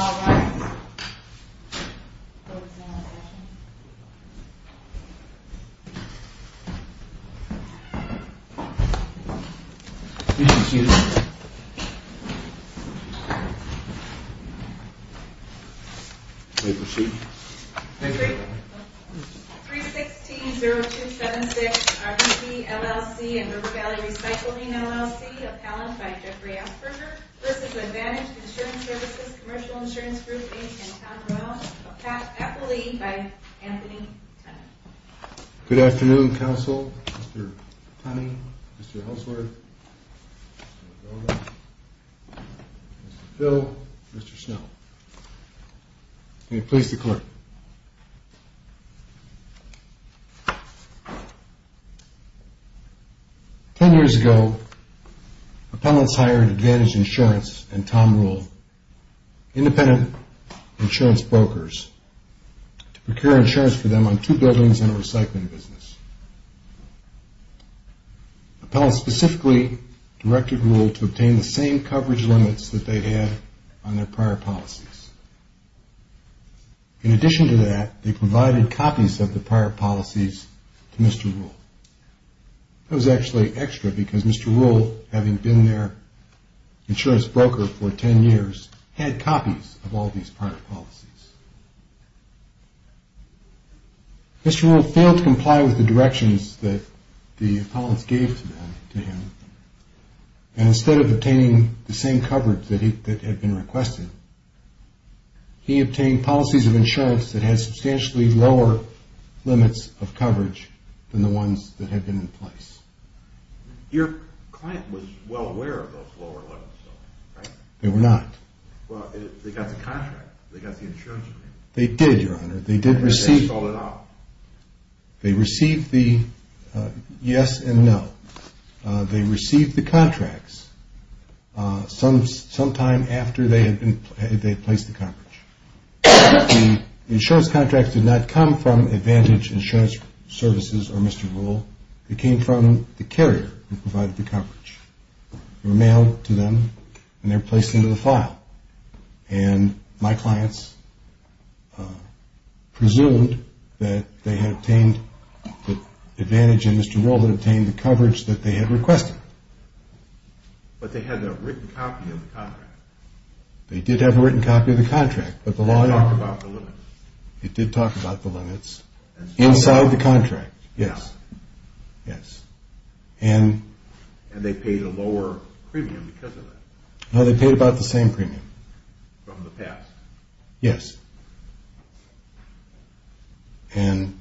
All rise. Closing the session. Thank you. May we proceed? 3-6-T-0-2-7-6 RV, LLC, and River Valley Recycling, LLC. Appellant by Jeffrey Asperger. This is Advantage Insurance Services Commercial Insurance Group, Inc., in Townsville. Appellee by Anthony Tunney. Good afternoon, Counsel. Mr. Tunney, Mr. Hulsward, Mr. Dolan, Mr. Phil, Mr. Snow. May it please the Court. Ten years ago, appellants hired Advantage Insurance and Tom Rule, independent insurance brokers, to procure insurance for them on two buildings in a recycling business. Appellants specifically directed Rule to obtain the same coverage limits that they had on their prior policies. In addition to that, they provided copies of the prior policies to Mr. Rule. That was actually extra because Mr. Rule, having been their insurance broker for ten years, had copies of all these prior policies. Mr. Rule failed to comply with the directions that the appellants gave to him. Instead of obtaining the same coverage that had been requested, he obtained policies of insurance that had substantially lower limits of coverage than the ones that had been in place. Your client was well aware of those lower limits, though, right? They were not. Well, they got the contract. They got the insurance agreement. They did, Your Honor. They did receive... And then they sold it off. They received the yes and no. They received the contracts sometime after they had placed the coverage. The insurance contracts did not come from Advantage Insurance Services or Mr. Rule. They came from the carrier who provided the coverage. They were mailed to them, and they were placed into the file. And my clients presumed that they had obtained, that Advantage and Mr. Rule had obtained the coverage that they had requested. But they had a written copy of the contract. They did have a written copy of the contract, but the law... It did talk about the limits. It did talk about the limits inside the contract, yes. Yes. And they paid a lower premium because of that? No, they paid about the same premium. From the past? Yes. And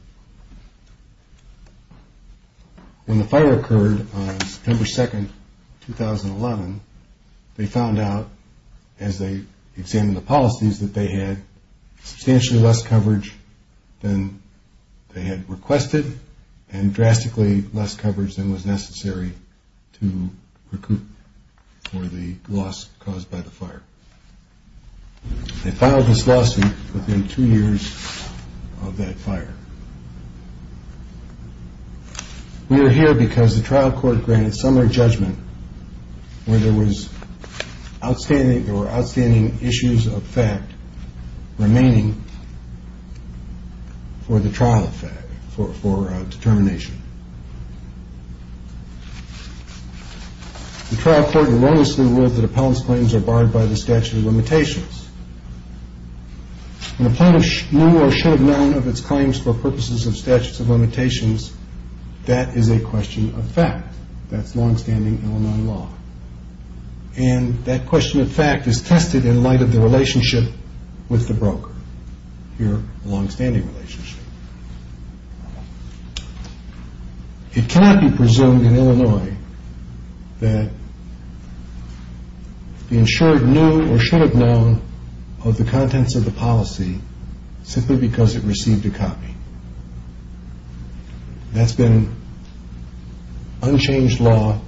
when the fire occurred on September 2, 2011, they found out as they examined the policies that they had substantially less coverage than they had requested and drastically less coverage than was necessary to recoup for the loss caused by the fire. They filed this lawsuit within two years of that fire. We are here because the trial court granted similar judgment where there was outstanding issues of fact remaining for the trial effect, for determination. The trial court wrongfully ruled that Appellant's claims are barred by the statute of limitations. When Appellant knew or should have known of its claims for purposes of statutes of limitations, that is a question of fact. That's longstanding Illinois law. And that question of fact is tested in light of the relationship with the broker, your longstanding relationship. It cannot be presumed in Illinois that the insured knew or should have known of the contents of the policy simply because it received a copy. That's been unchanged law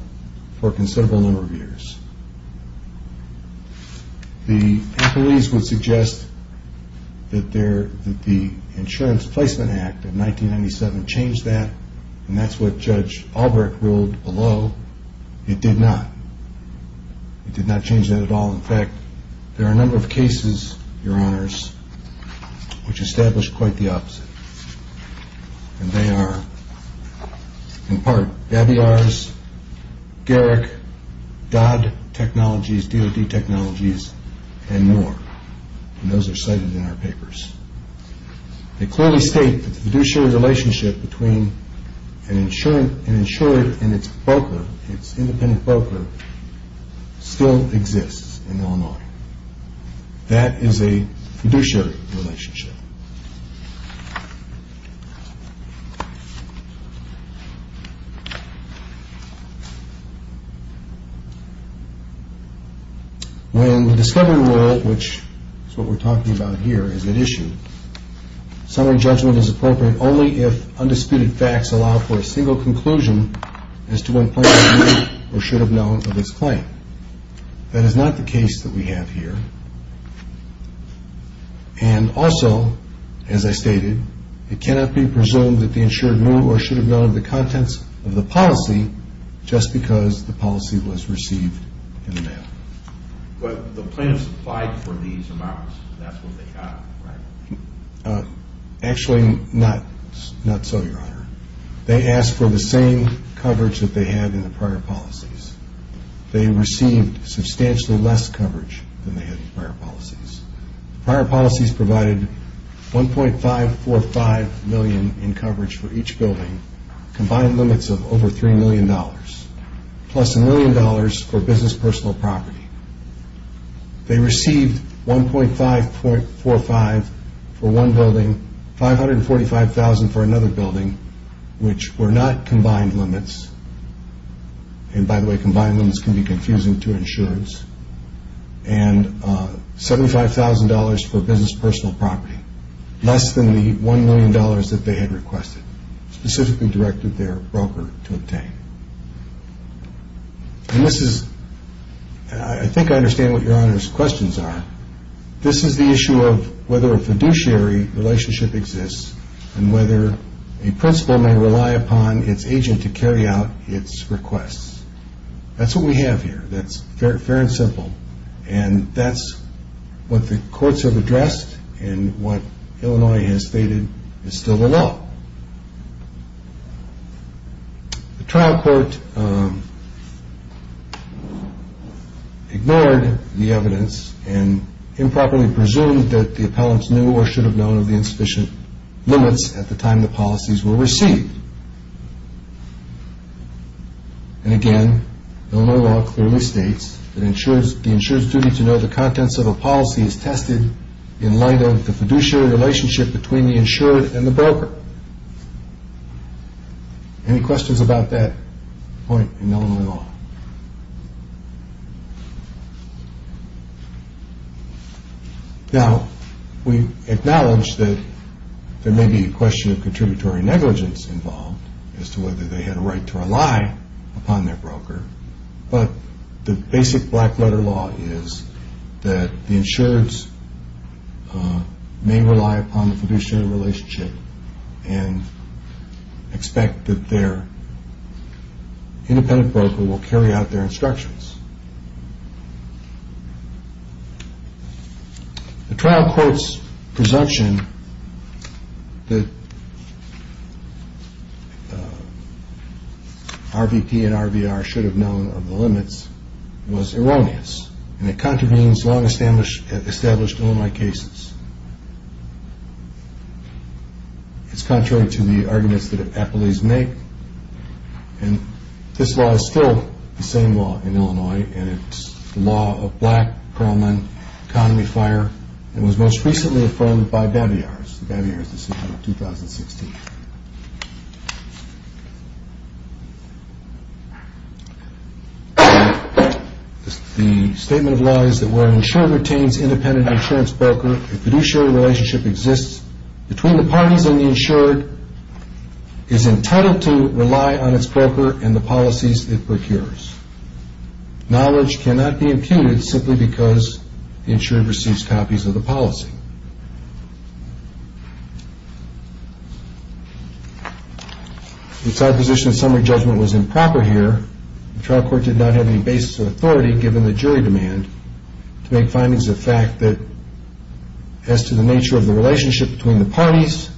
for a considerable number of years. The appellees would suggest that the Insurance Placement Act of 1997 changed that, and that's what Judge Albrecht ruled below. It did not. It did not change that at all. In fact, there are a number of cases, Your Honors, which establish quite the opposite. And they are, in part, Babiars, Garrick, Dodd Technologies, DoD Technologies, and more. And those are cited in our papers. They clearly state that the fiduciary relationship between an insured and its broker, its independent broker, still exists in Illinois. That is a fiduciary relationship. When the discovery rule, which is what we're talking about here as an issue, summary judgment is appropriate only if undisputed facts allow for a single conclusion as to when plaintiffs knew or should have known of its claim. That is not the case that we have here. And also, as I stated, it cannot be presumed that the insured knew or should have known of the contents of the policy just because the policy was received in the mail. But the plaintiffs applied for these amounts. That's what they got, right? Actually, not so, Your Honor. They asked for the same coverage that they had in the prior policies. They received substantially less coverage than they had in prior policies. Prior policies provided $1.545 million in coverage for each building, combined limits of over $3 million, plus $1 million for business personal property. They received $1.545 for one building, $545,000 for another building, which were not combined limits. And by the way, combined limits can be confusing to insurance. And $75,000 for business personal property, less than the $1 million that they had requested, specifically directed their broker to obtain. And this is, I think I understand what Your Honor's questions are. This is the issue of whether a fiduciary relationship exists and whether a principal may rely upon its agent to carry out its requests. That's what we have here. That's fair and simple. And that's what the courts have addressed and what Illinois has stated is still the law. The trial court ignored the evidence and improperly presumed that the appellants knew or should have known of the insufficient limits at the time the policies were received. And again, Illinois law clearly states that the insurer's duty to know the contents of a policy is tested in light of the fiduciary relationship between the insured and the broker. Any questions about that point in Illinois law? Now, we acknowledge that there may be a question of contributory negligence involved as to whether they had a right to rely upon their broker, but the basic black-letter law is that the insureds may rely upon the fiduciary relationship and expect that their independent broker will carry out their instructions. The trial court's presumption that RVP and RVR should have known of the limits was erroneous and it contravenes long-established Illinois cases. It's contrary to the arguments that appellees make and this law is still the same law in Illinois and it's the law of black, Perlman, economy, fire and was most recently affirmed by Babiars. Babiars, December 2016. The statement of law is that where an insured retains independent insurance broker, a fiduciary relationship exists between the parties and the insured is entitled to rely on its broker and the policies it procures. Knowledge cannot be imputed simply because the insured receives copies of the policy. The side position of summary judgment was improper here. The trial court did not have any basis of authority given the jury demand to make findings of fact that as to the nature of the relationship between the parties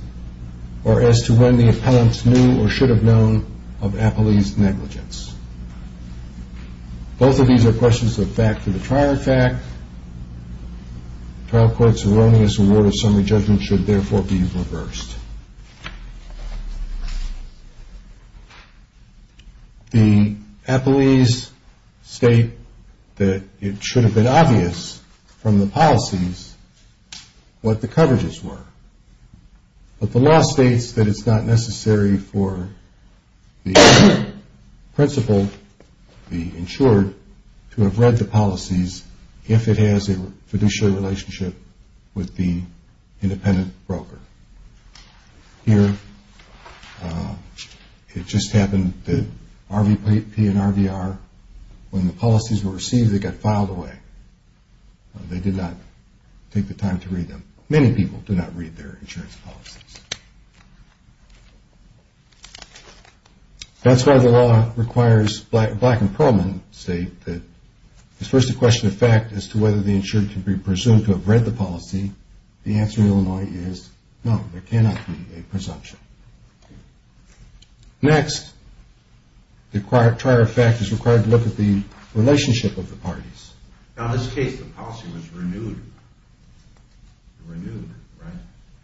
or as to when the appellants knew or should have known of appellees' negligence. Both of these are questions of fact to the prior fact. The trial court's erroneous award of summary judgment should therefore be reversed. The appellees state that it should have been obvious from the policies what the coverages were, but the law states that it's not necessary for the principal, the insured, to have read the policies if it has a fiduciary relationship with the independent broker. Here, it just happened that RVP and RVR, when the policies were received, they got filed away. They did not take the time to read them. Many people do not read their insurance policies. That's why the law requires Black and Perlman state that it's first a question of fact as to whether the insured can be presumed to have read the policy. The answer in Illinois is no. There cannot be a presumption. Next, the prior fact is required to look at the relationship of the parties. Now, in this case, the policy was renewed. Renewed, right?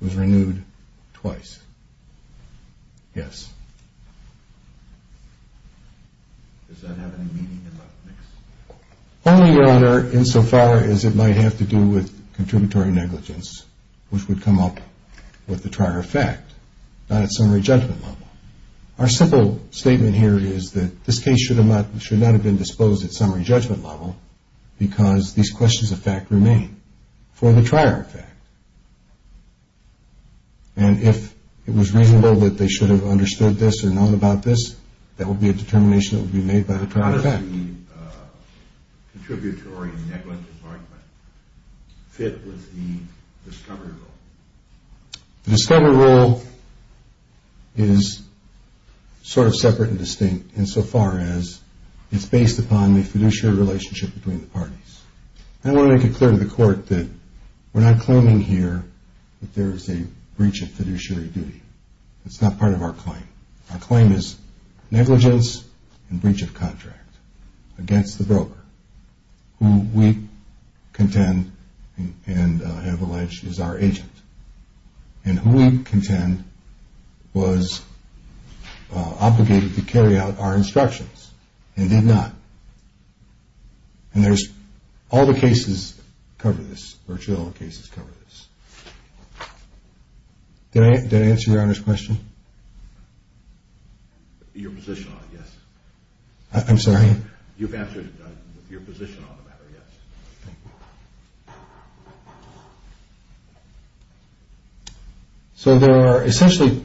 It was renewed twice. Yes. Does that have any meaning in that mix? Only, Your Honor, insofar as it might have to do with contributory negligence, which would come up with the prior fact, not at summary judgment level. Our simple statement here is that this case should not have been disposed at summary judgment level because these questions of fact remain for the prior fact. And if it was reasonable that they should have understood this or known about this, that would be a determination that would be made by the prior fact. How does the contributory negligence argument fit with the discovery rule? The discovery rule is sort of separate and distinct insofar as it's based upon the fiduciary relationship between the parties. I want to make it clear to the Court that we're not claiming here that there is a breach of fiduciary duty. It's not part of our claim. Our claim is negligence and breach of contract against the broker who we contend and have alleged is our agent and who we contend was obligated to carry out our instructions and did not. And all the cases cover this. Virtually all the cases cover this. Did I answer Your Honor's question? Your position on it, yes. I'm sorry? You've answered your position on the matter, yes. Thank you. So there are essentially,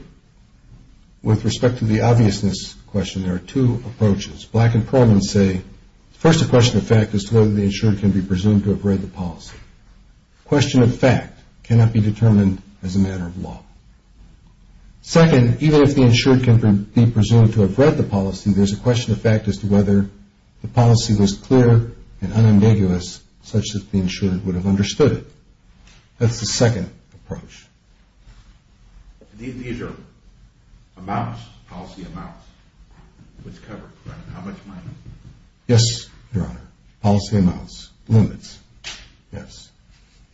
with respect to the obviousness question, there are two approaches. Black and Pearlman say, first the question of fact is whether the insured can be presumed to have read the policy. Question of fact cannot be determined as a matter of law. Second, even if the insured can be presumed to have read the policy, there's a question of fact as to whether the policy was clear and unambiguous such that the insured would have understood it. That's the second approach. These are amounts, policy amounts, which cover? How much money? Yes, Your Honor. Policy amounts, limits, yes.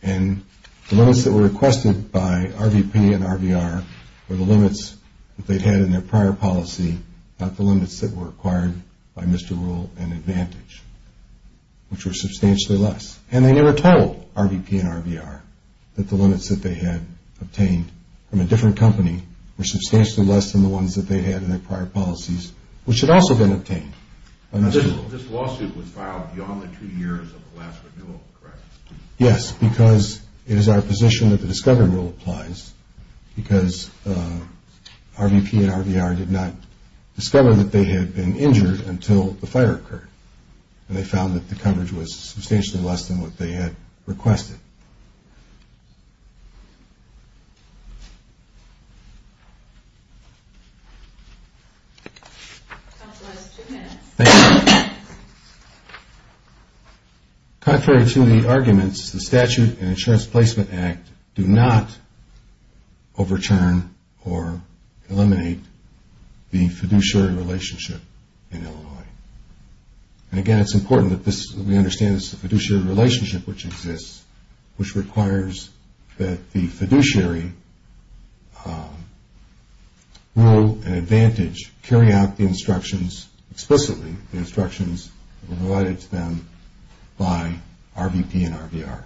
And the limits that were requested by RVP and RVR were the limits that they had in their prior policy, not the limits that were acquired by Mr. Rule and Advantage, which were substantially less. And they never told RVP and RVR that the limits that they had obtained from a different company were substantially less than the ones that they had in their prior policies, which had also been obtained by Mr. Rule. This lawsuit was filed beyond the two years of the last renewal, correct? Yes, because it is our position that the discovery rule applies because RVP and RVR did not discover that they had been injured until the fire occurred, and they found that the coverage was substantially less than what they had requested. Thank you. Contrary to the arguments, the Statute and Insurance Placement Act do not overturn or eliminate the fiduciary relationship in Illinois. And again, it's important that we understand this is a fiduciary relationship which exists, which requires that the fiduciary, Rule and Advantage, carry out the instructions explicitly, the instructions provided to them by RVP and RVR.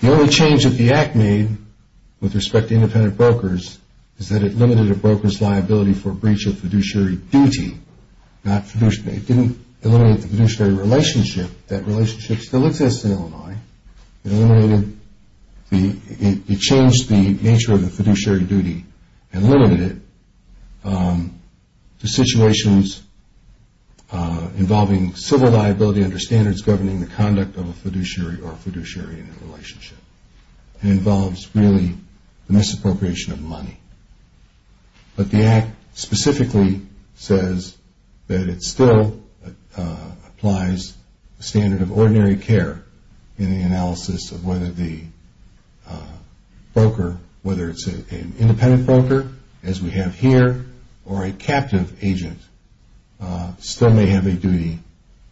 The only change that the Act made with respect to independent brokers is that it limited a broker's liability for breach of fiduciary duty, not fiduciary. It didn't eliminate the fiduciary relationship. That relationship still exists in Illinois. It changed the nature of the fiduciary duty and limited it to situations involving civil liability under standards governing the conduct of a fiduciary or a fiduciary in a relationship. It involves really the misappropriation of money. But the Act specifically says that it still applies the standard of ordinary care in the analysis of whether the broker, whether it's an independent broker, as we have here, or a captive agent still may have a duty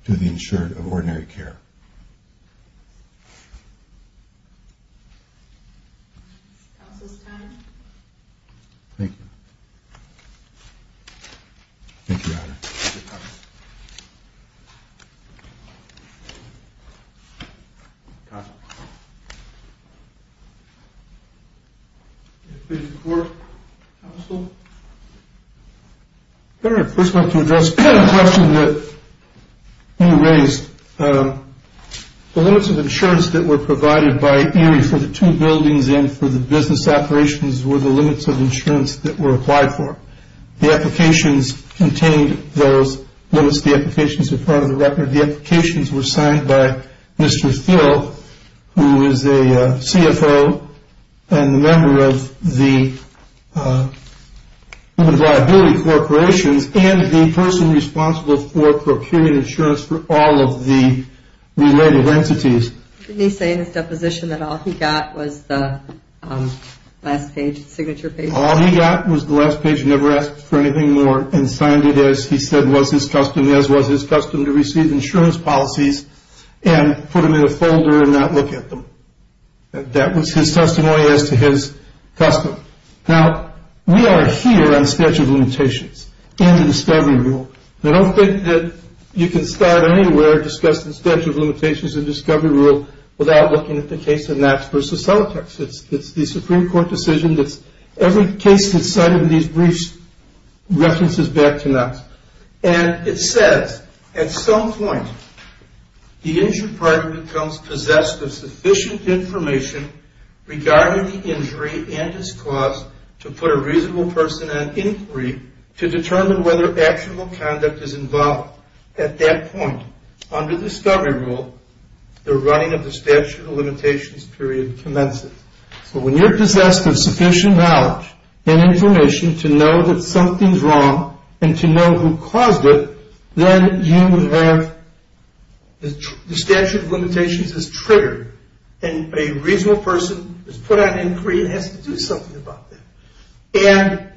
to the insured of ordinary care. Counsel's time. Thank you. Thank you, Your Honor. Counsel. Please report, Counsel. Your Honor, first I'd like to address a question that you raised. The limits of insurance that were provided by ERI for the two buildings and for the business operations were the limits of insurance that were applied for. The applications contained those limits. The applications are part of the record. The applications were signed by Mr. Phil, who is a CFO and a member of the liability corporations and the person responsible for procurement insurance for all of the related entities. Didn't he say in his deposition that all he got was the last page, the signature page? All he got was the last page. He never asked for anything more and signed it as he said was his custom, as was his custom to receive insurance policies and put them in a folder and not look at them. That was his testimony as to his custom. Now, we are here on statute of limitations and the discovery rule. I don't think that you can start anywhere discussing the statute of limitations and discovery rule without looking at the case of Knox v. Celotex. It's the Supreme Court decision that every case that's cited in these briefs references back to Knox. And it says, at some point, the injured party becomes possessed of sufficient information regarding the injury and its cause to put a reasonable person on inquiry to determine whether actionable conduct is involved. At that point, under discovery rule, the running of the statute of limitations period commences. So when you're possessed of sufficient knowledge and information to know that something's wrong and to know who caused it, then you have the statute of limitations is triggered and a reasonable person is put on inquiry and has to do something about that. And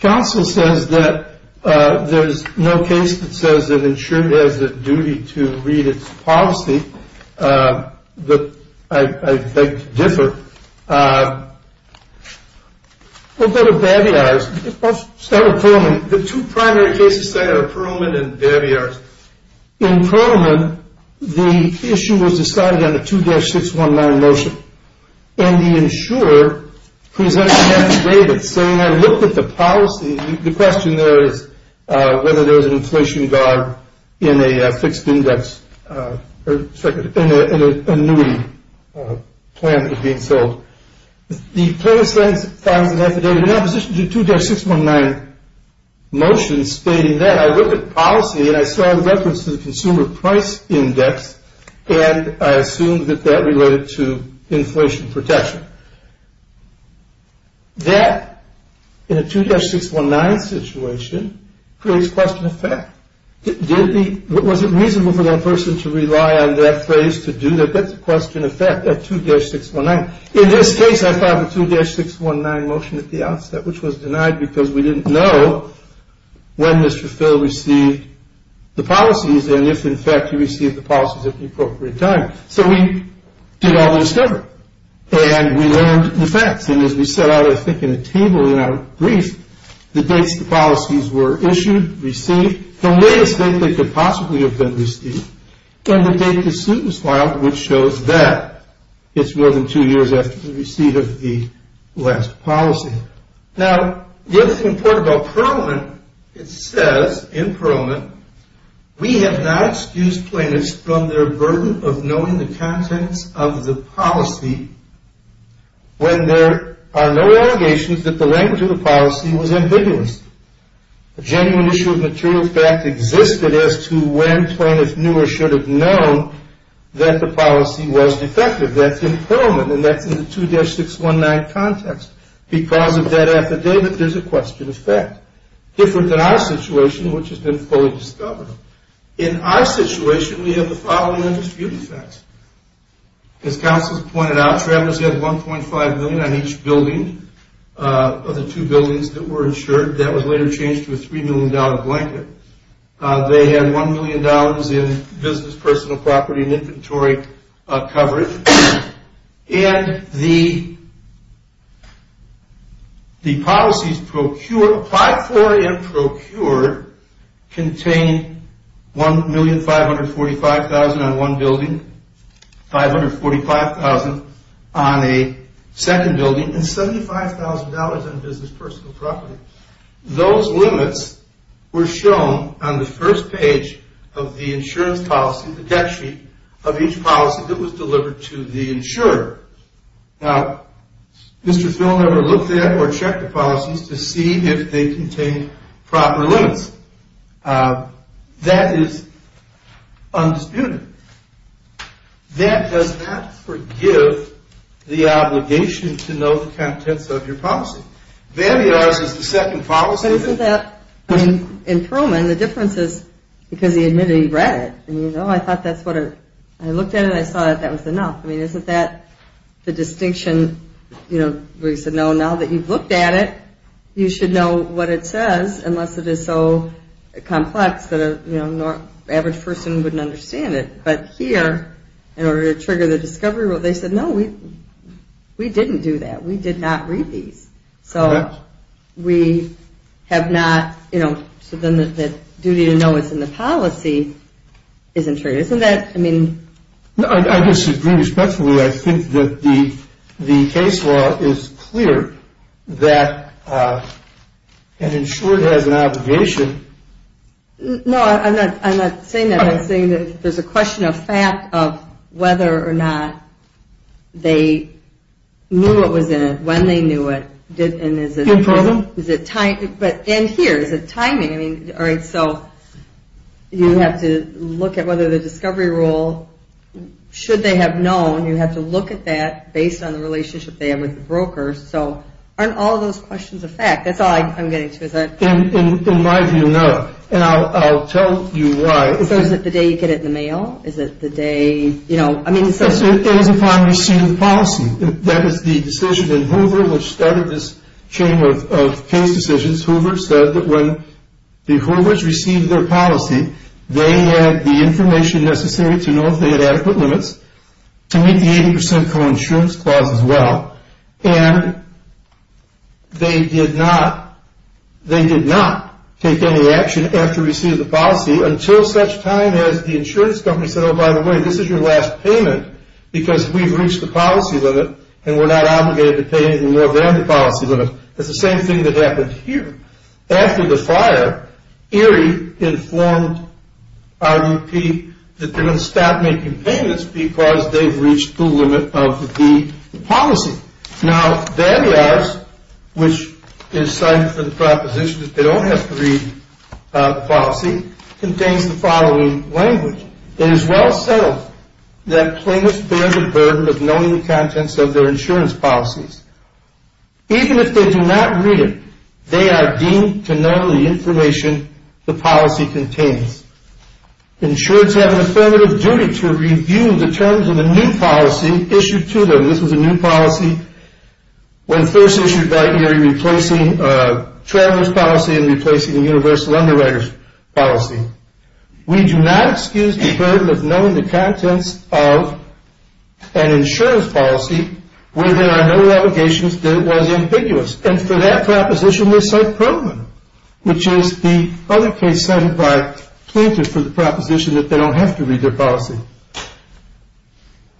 counsel says that there's no case that says that an insured has a duty to read its policy. I beg to differ. What about the Babiars? The two primary cases cited are Perlman and Babiars. In Perlman, the issue was decided on a 2-619 motion. And the insurer presented an affidavit saying, I looked at the policy. The question there is whether there was an inflation guard in a fixed index or in a annuity plan that was being sold. The plaintiff finds an affidavit in opposition to the 2-619 motion stating that. I looked at policy and I saw a reference to the consumer price index and I assumed that that related to inflation protection. That, in a 2-619 situation, creates question of fact. Was it reasonable for that person to rely on that phrase to do that? That's a question of fact, that 2-619. In this case, I filed a 2-619 motion at the outset, which was denied because we didn't know when Mr. Phil received the policies and if, in fact, he received the policies at the appropriate time. So we did all the discovery and we learned the facts. And as we set out, I think, in a table in our brief, the dates the policies were issued, received, the latest date they could possibly have been received, and the date the suit was filed, which shows that it's more than two years after the receipt of the last policy. Now, the other thing important about Perlman, it says in Perlman, we have not excused plaintiffs from their burden of knowing the contents of the policy when there are no allegations that the language of the policy was ambiguous. A genuine issue of material fact existed as to when plaintiffs knew or should have known that the policy was defective. That's in Perlman and that's in the 2-619 context. Because of that affidavit, there's a question of fact. Different than our situation, which has been fully discovered. In our situation, we have the following undisputed facts. As counsel pointed out, travelers had $1.5 million on each building of the two buildings that were insured. That was later changed to a $3 million blanket. They had $1 million in business, personal property, and inventory coverage. And the policies procured, applied for and procured, contained $1,545,000 on one building, $545,000 on a second building, and $75,000 on business, personal property. Those limits were shown on the first page of the insurance policy, of each policy that was delivered to the insurer. Now, Mr. Phil never looked at or checked the policies to see if they contained proper limits. That is undisputed. That does not forgive the obligation to know the contents of your policy. VAMIARS is the second policy. But isn't that, I mean, in Perlman, the difference is because he admitted he read it. I thought that's what, I looked at it and I saw that that was enough. I mean, isn't that the distinction where he said, no, now that you've looked at it, you should know what it says, unless it is so complex that an average person wouldn't understand it. But here, in order to trigger the discovery rule, they said, no, we didn't do that. We did not read these. So we have not, you know, so then the duty to know what's in the policy isn't true. Isn't that, I mean? I disagree respectfully. I think that the case law is clear that an insurer has an obligation. No, I'm not saying that. I'm saying that there's a question of fact of whether or not they knew what was in it, when they knew it. In Perlman? And here, is it timing? I mean, all right, so you have to look at whether the discovery rule, should they have known, you have to look at that based on the relationship they have with the broker. So aren't all of those questions a fact? That's all I'm getting to. In my view, no. And I'll tell you why. So is it the day you get it in the mail? Is it the day, you know? It is if I receive the policy. That is the decision in Hoover, which started this chain of case decisions. Hoover said that when the Hoovers received their policy, they had the information necessary to know if they had adequate limits to meet the 80% coinsurance clause as well. And they did not take any action after receiving the policy, until such time as the insurance company said, oh, by the way, this is your last payment because we've reached the policy limit and we're not obligated to pay anything more than the policy limit. It's the same thing that happened here. After the fire, ERIE informed RUP that they're going to stop making payments because they've reached the limit of the policy. Now, VAMLAS, which is cited for the proposition that they don't have to read the policy, contains the following language. It is well settled that claimants bear the burden of knowing the contents of their insurance policies. Even if they do not read it, they are deemed to know the information the policy contains. Insurers have an affirmative duty to review the terms of a new policy issued to them. This was a new policy when first issued by ERIE, replacing a traveler's policy and replacing a universal underwriter's policy. We do not excuse the burden of knowing the contents of an insurance policy where there are no allegations that it was ambiguous. And for that proposition, we cite Perlman, which is the other case cited by Clinton for the proposition that they don't have to read their policy.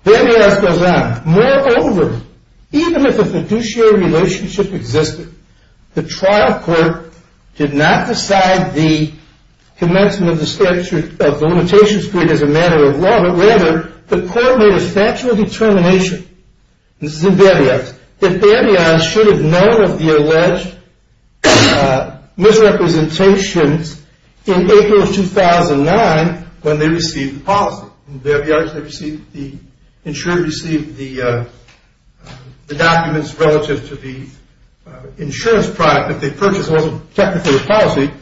VAMLAS goes on. Moreover, even if a fiduciary relationship existed, the trial court did not decide the commencement of the limitation spree as a matter of law, but rather the court made a factual determination, and this is in Babiarch's, that Babiarch should have known of the alleged misrepresentations in April of 2009 when they received the policy. In Babiarch, the insurer received the documents relative to the insurance product that they purchased that wasn't technically a policy.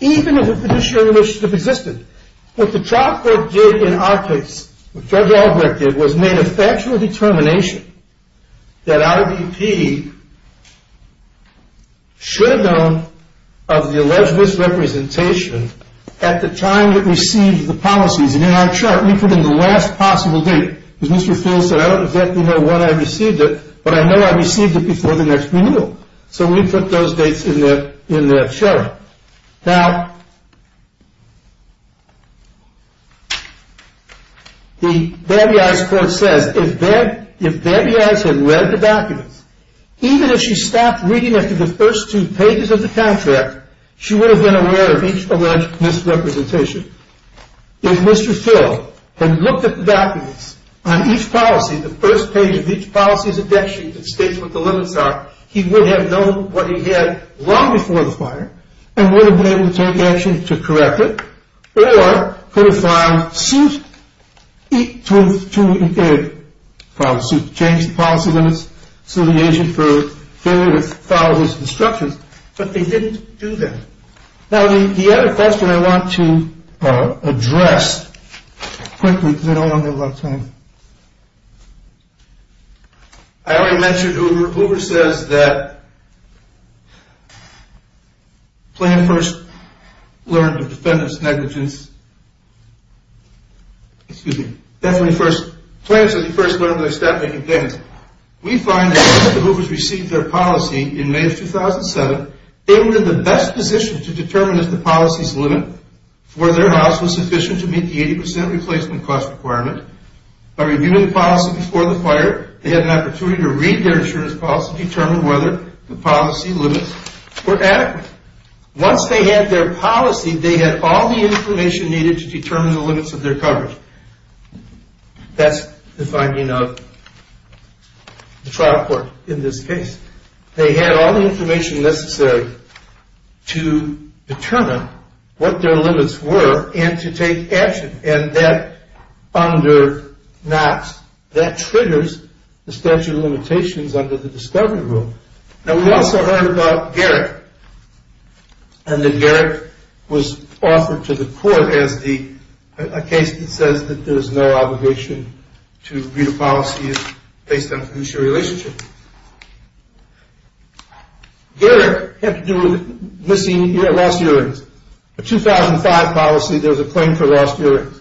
Even if a fiduciary relationship existed, what the trial court did in our case, what Judge Albrecht did, was made a factual determination that our VP should have known of the alleged misrepresentation at the time it received the policies. And in our chart, we put in the last possible date, because Mr. Fields said, I don't exactly know when I received it, but I know I received it before the next renewal. So we put those dates in the chart. Now, the Babiarch's court says, if Babiarch had read the documents, even if she stopped reading after the first two pages of the contract, she would have been aware of each alleged misrepresentation. If Mr. Fields had looked at the documents on each policy, the first page of each policy's index sheet that states what the limits are, he would have known what he had long before the fire and would have been able to take action to correct it or could have filed suit to change the policy limits, sue the agent for failure to follow his instructions, but they didn't do that. Now, the other question I want to address quickly, because I don't want to have a lot of time. I already mentioned Uber. Uber says that Planned First learned of defendant's negligence. Excuse me. Definitely first. Planned First learned of their staff making payments. We find that once the Hoovers received their policy in May of 2007, they were in the best position to determine if the policy's limit for their house was sufficient to meet the 80% replacement cost requirement. By reviewing the policy before the fire, they had an opportunity to read their insurance policy to determine whether the policy limits were adequate. Once they had their policy, they had all the information needed to determine the limits of their coverage. That's the finding of the trial court in this case. They had all the information necessary to determine what their limits were and to take action. And that triggers the statute of limitations under the discovery rule. Now, we also heard about Garrick, and that Garrick was offered to the court as the case that says that there's no obligation to read a policy based on fiduciary relationship. Garrick had to do with missing or lost hearings. A 2005 policy, there was a claim for lost hearings.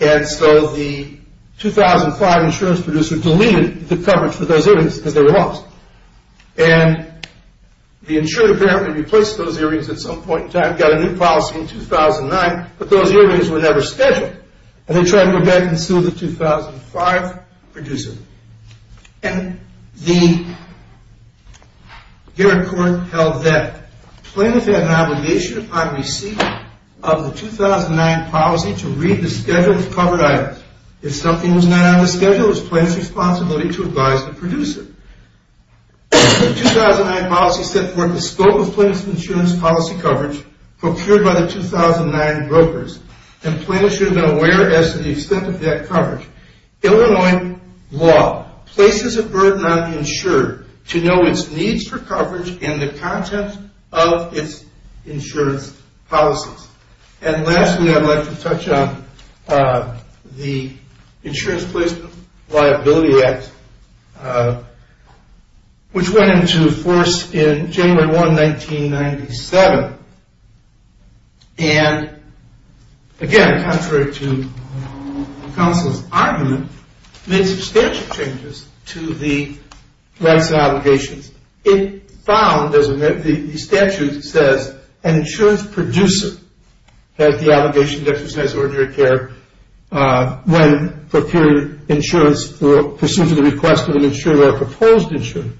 And so the 2005 insurance producer deleted the coverage for those hearings because they were lost. And the insurer apparently replaced those hearings at some point in time, got a new policy in 2009, but those hearings were never scheduled. And they tried to go back and sue the 2005 producer. And the Garrick court held that plaintiff had an obligation upon receipt of the 2009 policy to read the schedule of covered items. If something was not on the schedule, it was plaintiff's responsibility to advise the producer. The 2009 policy set forth the scope of plaintiff's insurance policy coverage procured by the 2009 brokers. And plaintiff should have been aware as to the extent of that coverage. Illinois law places a burden on the insurer to know its needs for coverage and the content of its insurance policies. And lastly, I'd like to touch on the Insurance Placement Liability Act, which went into force in January 1, 1997. And again, contrary to counsel's argument, made substantial changes to the rights and obligations. It found, as the statute says, an insurance producer has the obligation to exercise ordinary care when procuring insurance pursuant to the request of an insurer or a proposed insurer.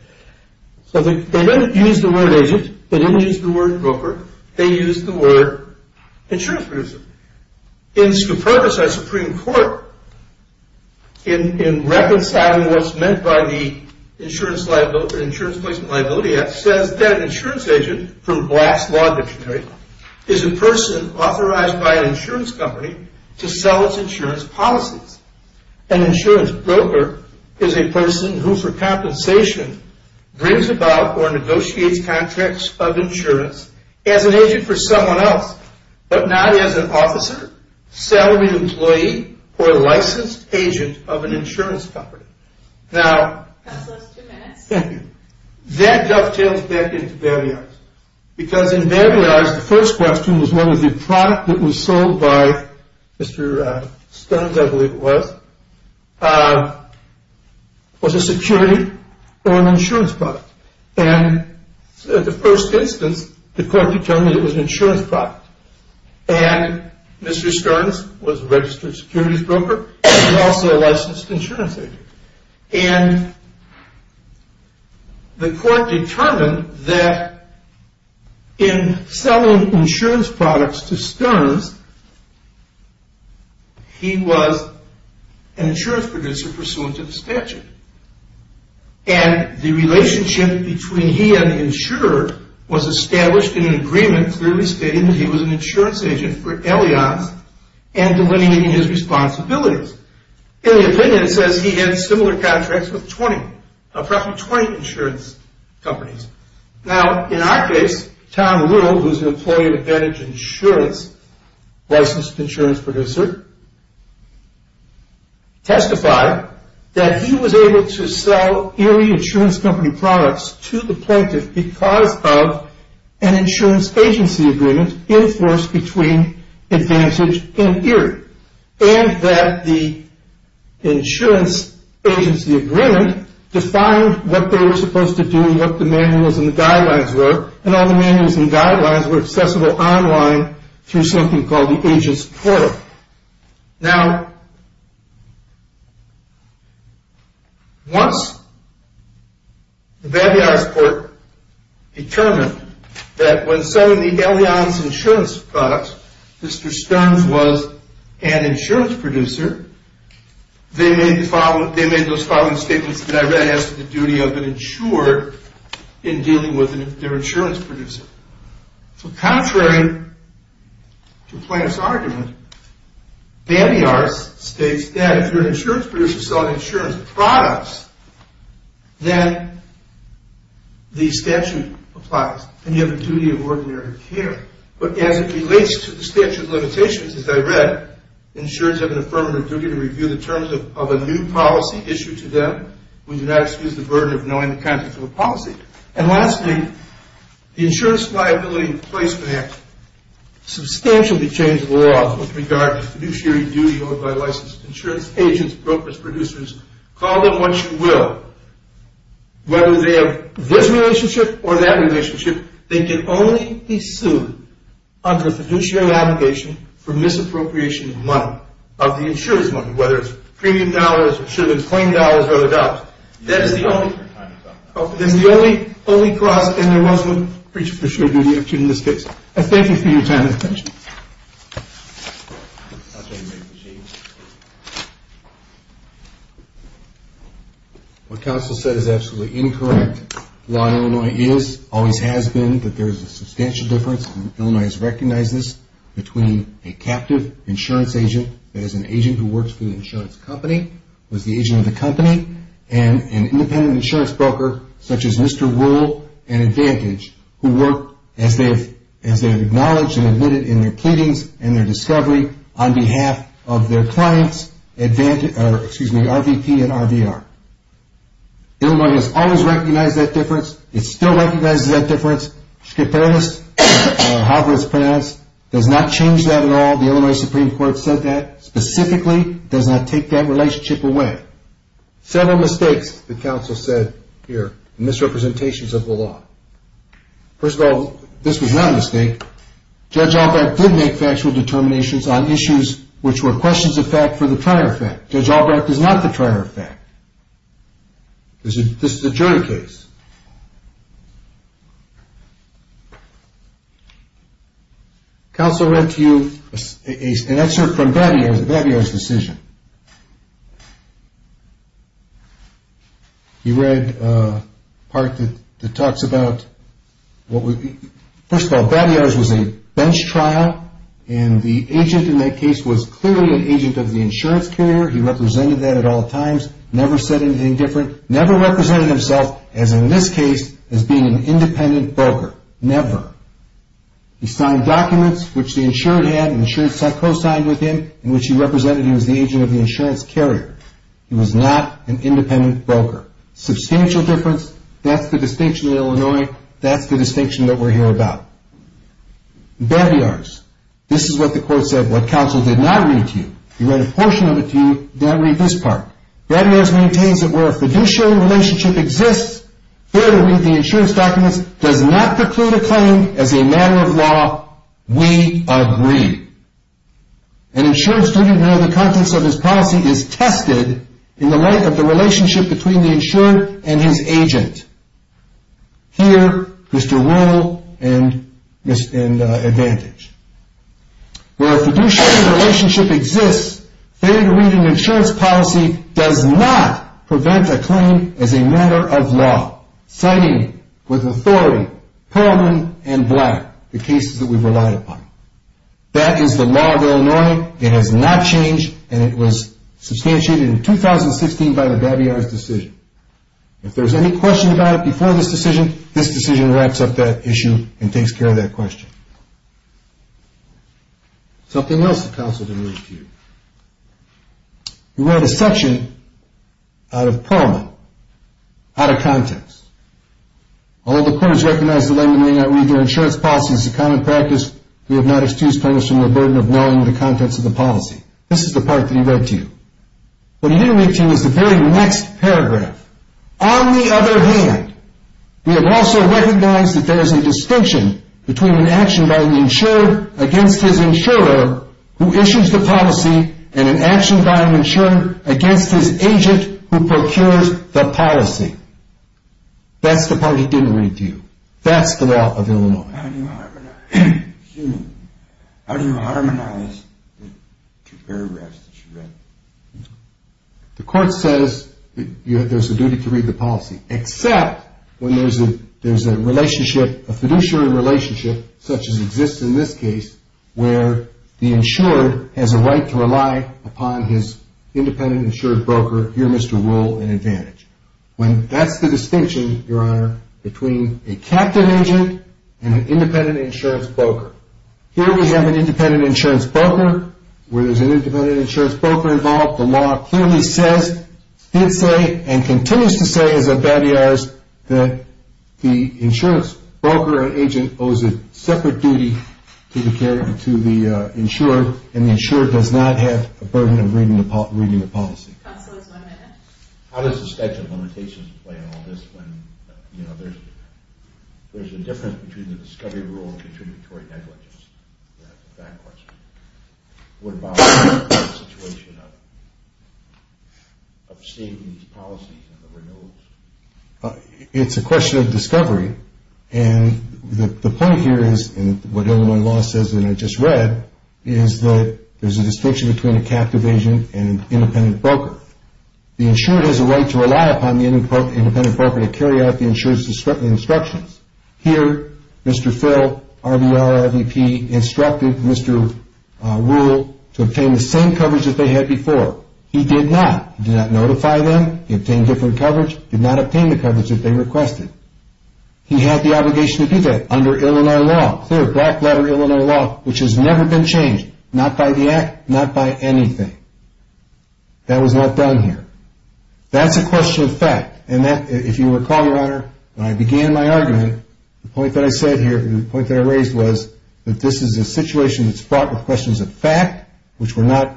So they didn't use the word agent. They didn't use the word broker. They used the word insurance producer. In scrupulous, our Supreme Court, in reconciling what's meant by the Insurance Placement Liability Act, says that an insurance agent from Black's Law Dictionary is a person authorized by an insurance company to sell its insurance policies. An insurance broker is a person who, for compensation, brings about or negotiates contracts of insurance as an agent for someone else, but not as an officer, salaried employee, or licensed agent of an insurance company. Now, that dovetails back into barriers. Because in bad guys, the first question was whether the product that was sold by Mr. Stearns, I believe it was, was a security or an insurance product. And the first instance, the court determined it was an insurance product. And Mr. Stearns was a registered securities broker and also a licensed insurance agent. And the court determined that in selling insurance products to Stearns, he was an insurance producer pursuant to the statute. And the relationship between he and the insurer was established in an agreement clearly stating that he was an insurance agent for Ellions and delineating his responsibilities. In the opinion, it says he had similar contracts with 20, approximately 20 insurance companies. Now, in our case, Tom Rule, who's an employee with Eddage Insurance, licensed insurance producer, testified that he was able to sell Erie Insurance Company products to the plaintiff because of an insurance agency agreement enforced between Advantage and Erie and that the insurance agency agreement defined what they were supposed to do and what the manuals and guidelines were. And all the manuals and guidelines were accessible online through something called the agent's portal. Now, once the Vallejo court determined that when selling the Ellions insurance products, Mr. Stearns was an insurance producer, they made those following statements that I read as to the duty of an insurer in dealing with their insurance producer. So contrary to the plaintiff's argument, Bambiars states that if you're an insurance producer selling insurance products, then the statute applies and you have a duty of ordinary care. But as it relates to the statute of limitations, as I read, insurers have an affirmative duty to review the terms of a new policy issued to them when you do not excuse the burden of knowing the contents of a policy. And lastly, the insurance liability placement substantially changed the laws with regard to fiduciary duty owed by licensed insurance agents, brokers, producers. Call them what you will. Whether they have this relationship or that relationship, they can only be sued under a fiduciary obligation for misappropriation of money, of the insurer's money, whether it's premium dollars or should have been plain dollars or other dollars. That is the only cross and there was no fiduciary duty in this case. I thank you for your time and attention. What counsel said is absolutely incorrect. The law in Illinois always has been that there is a substantial difference and Illinois has recognized this between a captive insurance agent, that is an agent who works for the insurance company, who is the agent of the company, and an independent insurance broker, such as Mr. Rule and Advantage, who work as they have acknowledged and admitted in their pleadings and their discovery on behalf of their clients, excuse me, RVP and RVR. Illinois has always recognized that difference. It still recognizes that difference. Skipperis, however it's pronounced, does not change that at all. The Illinois Supreme Court said that. Specifically, it does not take that relationship away. Several mistakes the counsel said here, misrepresentations of the law. First of all, this was not a mistake. Judge Albrecht did make factual determinations on issues which were questions of fact for the prior fact. Judge Albrecht is not the prior fact. This is a jury case. Counsel read to you an excerpt from Babiar's decision. He read part that talks about, first of all, Babiar's was a bench trial and the agent in that case was clearly an agent of the insurance carrier. He represented that at all times, never said anything different, never represented himself, as in this case, as being an independent broker. Never. He signed documents which the insured had and insured co-signed with him in which he represented he was the agent of the insurance carrier. He was not an independent broker. Substantial difference. That's the distinction in Illinois. That's the distinction that we're here about. Babiar's. This is what the court said, what counsel did not read to you. He read a portion of it to you, did not read this part. Babiar's maintains that where a fiduciary relationship exists, failure to read the insurance documents does not preclude a claim as a matter of law. We agree. An insured student may know the contents of his policy is tested in the light of the relationship between the insured and his agent. Here is to rule and advantage. Where a fiduciary relationship exists, failure to read an insurance policy does not prevent a claim as a matter of law, citing with authority, Perlman and Black, the cases that we've relied upon. That is the law of Illinois. It has not changed, and it was substantiated in 2016 by the Babiar's decision. If there's any question about it before this decision, this decision wraps up that issue and takes care of that question. Something else that counsel did not read to you. He read a section out of Perlman, out of context. Although the court has recognized the language in which you did not read your insurance policy as a common practice, we have not excused Perlman from the burden of knowing the contents of the policy. This is the part that he read to you. What he didn't read to you is the very next paragraph. On the other hand, we have also recognized that there is a distinction between an action by an insurer against his insurer who issues the policy and an action by an insurer against his agent who procures the policy. That's the part he didn't read to you. That's the law of Illinois. How do you harmonize the two paragraphs that you read? The court says that there's a duty to read the policy, except when there's a relationship, a fiduciary relationship, such as exists in this case, where the insured has a right to rely upon his independent insurance broker, your Mr. Rule, in advantage. That's the distinction, Your Honor, between a captive agent and an independent insurance broker. Here we have an independent insurance broker. Where there's an independent insurance broker involved, the law clearly says, did say, and continues to say as a badiarist, that the insurance broker or agent owes a separate duty to the insurer, and the insurer does not have a burden of reading the policy. Counselors, one minute. How does the statute of limitations play in all this when there's a difference between the discovery rule and contributory negligence? That's a bad question. What about the situation of stating these policies and the renewals? It's a question of discovery, and the point here is, and what Illinois law says and I just read, is that there's a distinction between a captive agent and an independent broker. The insured has a right to rely upon the independent broker to carry out the insured's instructions. Here, Mr. Phil, RVR, RVP, instructed Mr. Rule to obtain the same coverage that they had before. He did not. He did not notify them. He obtained different coverage. He did not obtain the coverage that they requested. He had the obligation to do that under Illinois law, clear black letter Illinois law, which has never been changed, not by the Act, not by anything. That was not done here. That's a question of fact, and if you recall, Your Honor, when I began my argument, the point that I said here, the point that I raised was that this is a situation that's fraught with questions of fact, which were not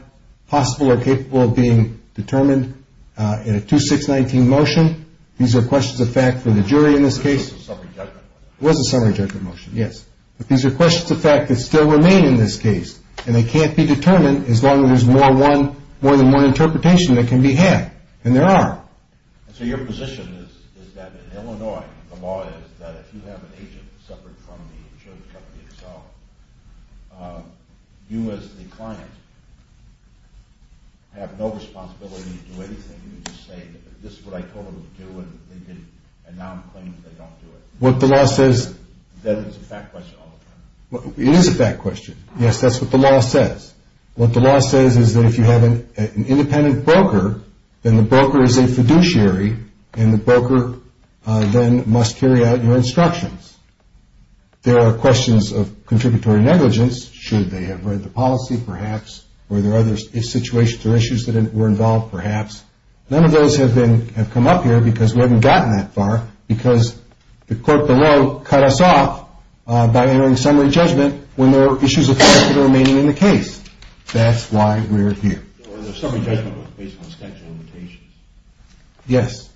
possible or capable of being determined in a 2-6-19 motion. These are questions of fact for the jury in this case. It was a summary judgment motion. It was a summary judgment motion, yes. But these are questions of fact that still remain in this case, and they can't be determined as long as there's more than one interpretation that can be had, and there are. So your position is that in Illinois, the law is that if you have an agent separate from the insurance company itself, you as the client have no responsibility to do anything. You just say, this is what I told them to do, and now I'm claiming that they don't do it. What the law says. That is a fact question all the time. It is a fact question. Yes, that's what the law says. What the law says is that if you have an independent broker, then the broker is a fiduciary, and the broker then must carry out your instructions. There are questions of contributory negligence. Should they have read the policy, perhaps? Were there other situations or issues that were involved, perhaps? None of those have come up here because we haven't gotten that far, because the court below cut us off by entering summary judgment when there were issues of fact that were remaining in the case. That's why we're here. The summary judgment was based on the statute of limitations. Yes,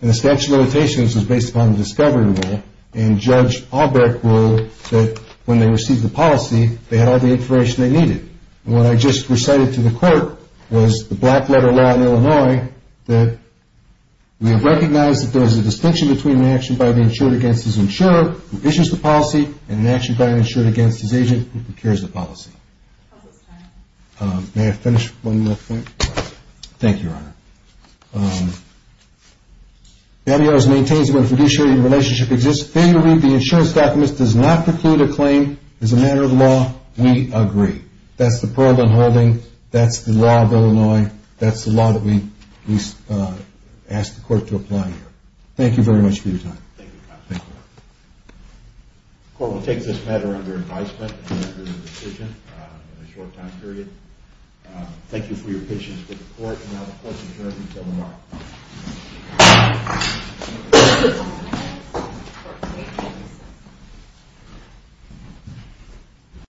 and the statute of limitations was based upon the discovery rule, and Judge Albrecht ruled that when they received the policy, they had all the information they needed. We have recognized that there is a distinction between an action by the insured against his insurer, who issues the policy, and an action by an insured against his agent, who procures the policy. May I finish one more thing? Thank you, Your Honor. The FBI maintains that when a fiduciary relationship exists, failure to read the insurance documents does not preclude a claim as a matter of law. We agree. That's the Pearlman holding. That's the law of Illinois. That's the law that we ask the court to apply here. Thank you very much for your time. Thank you, counsel. The court will take this matter under advisement and make a decision in a short time period. Thank you for your patience with the court, and now the court is adjourned until tomorrow.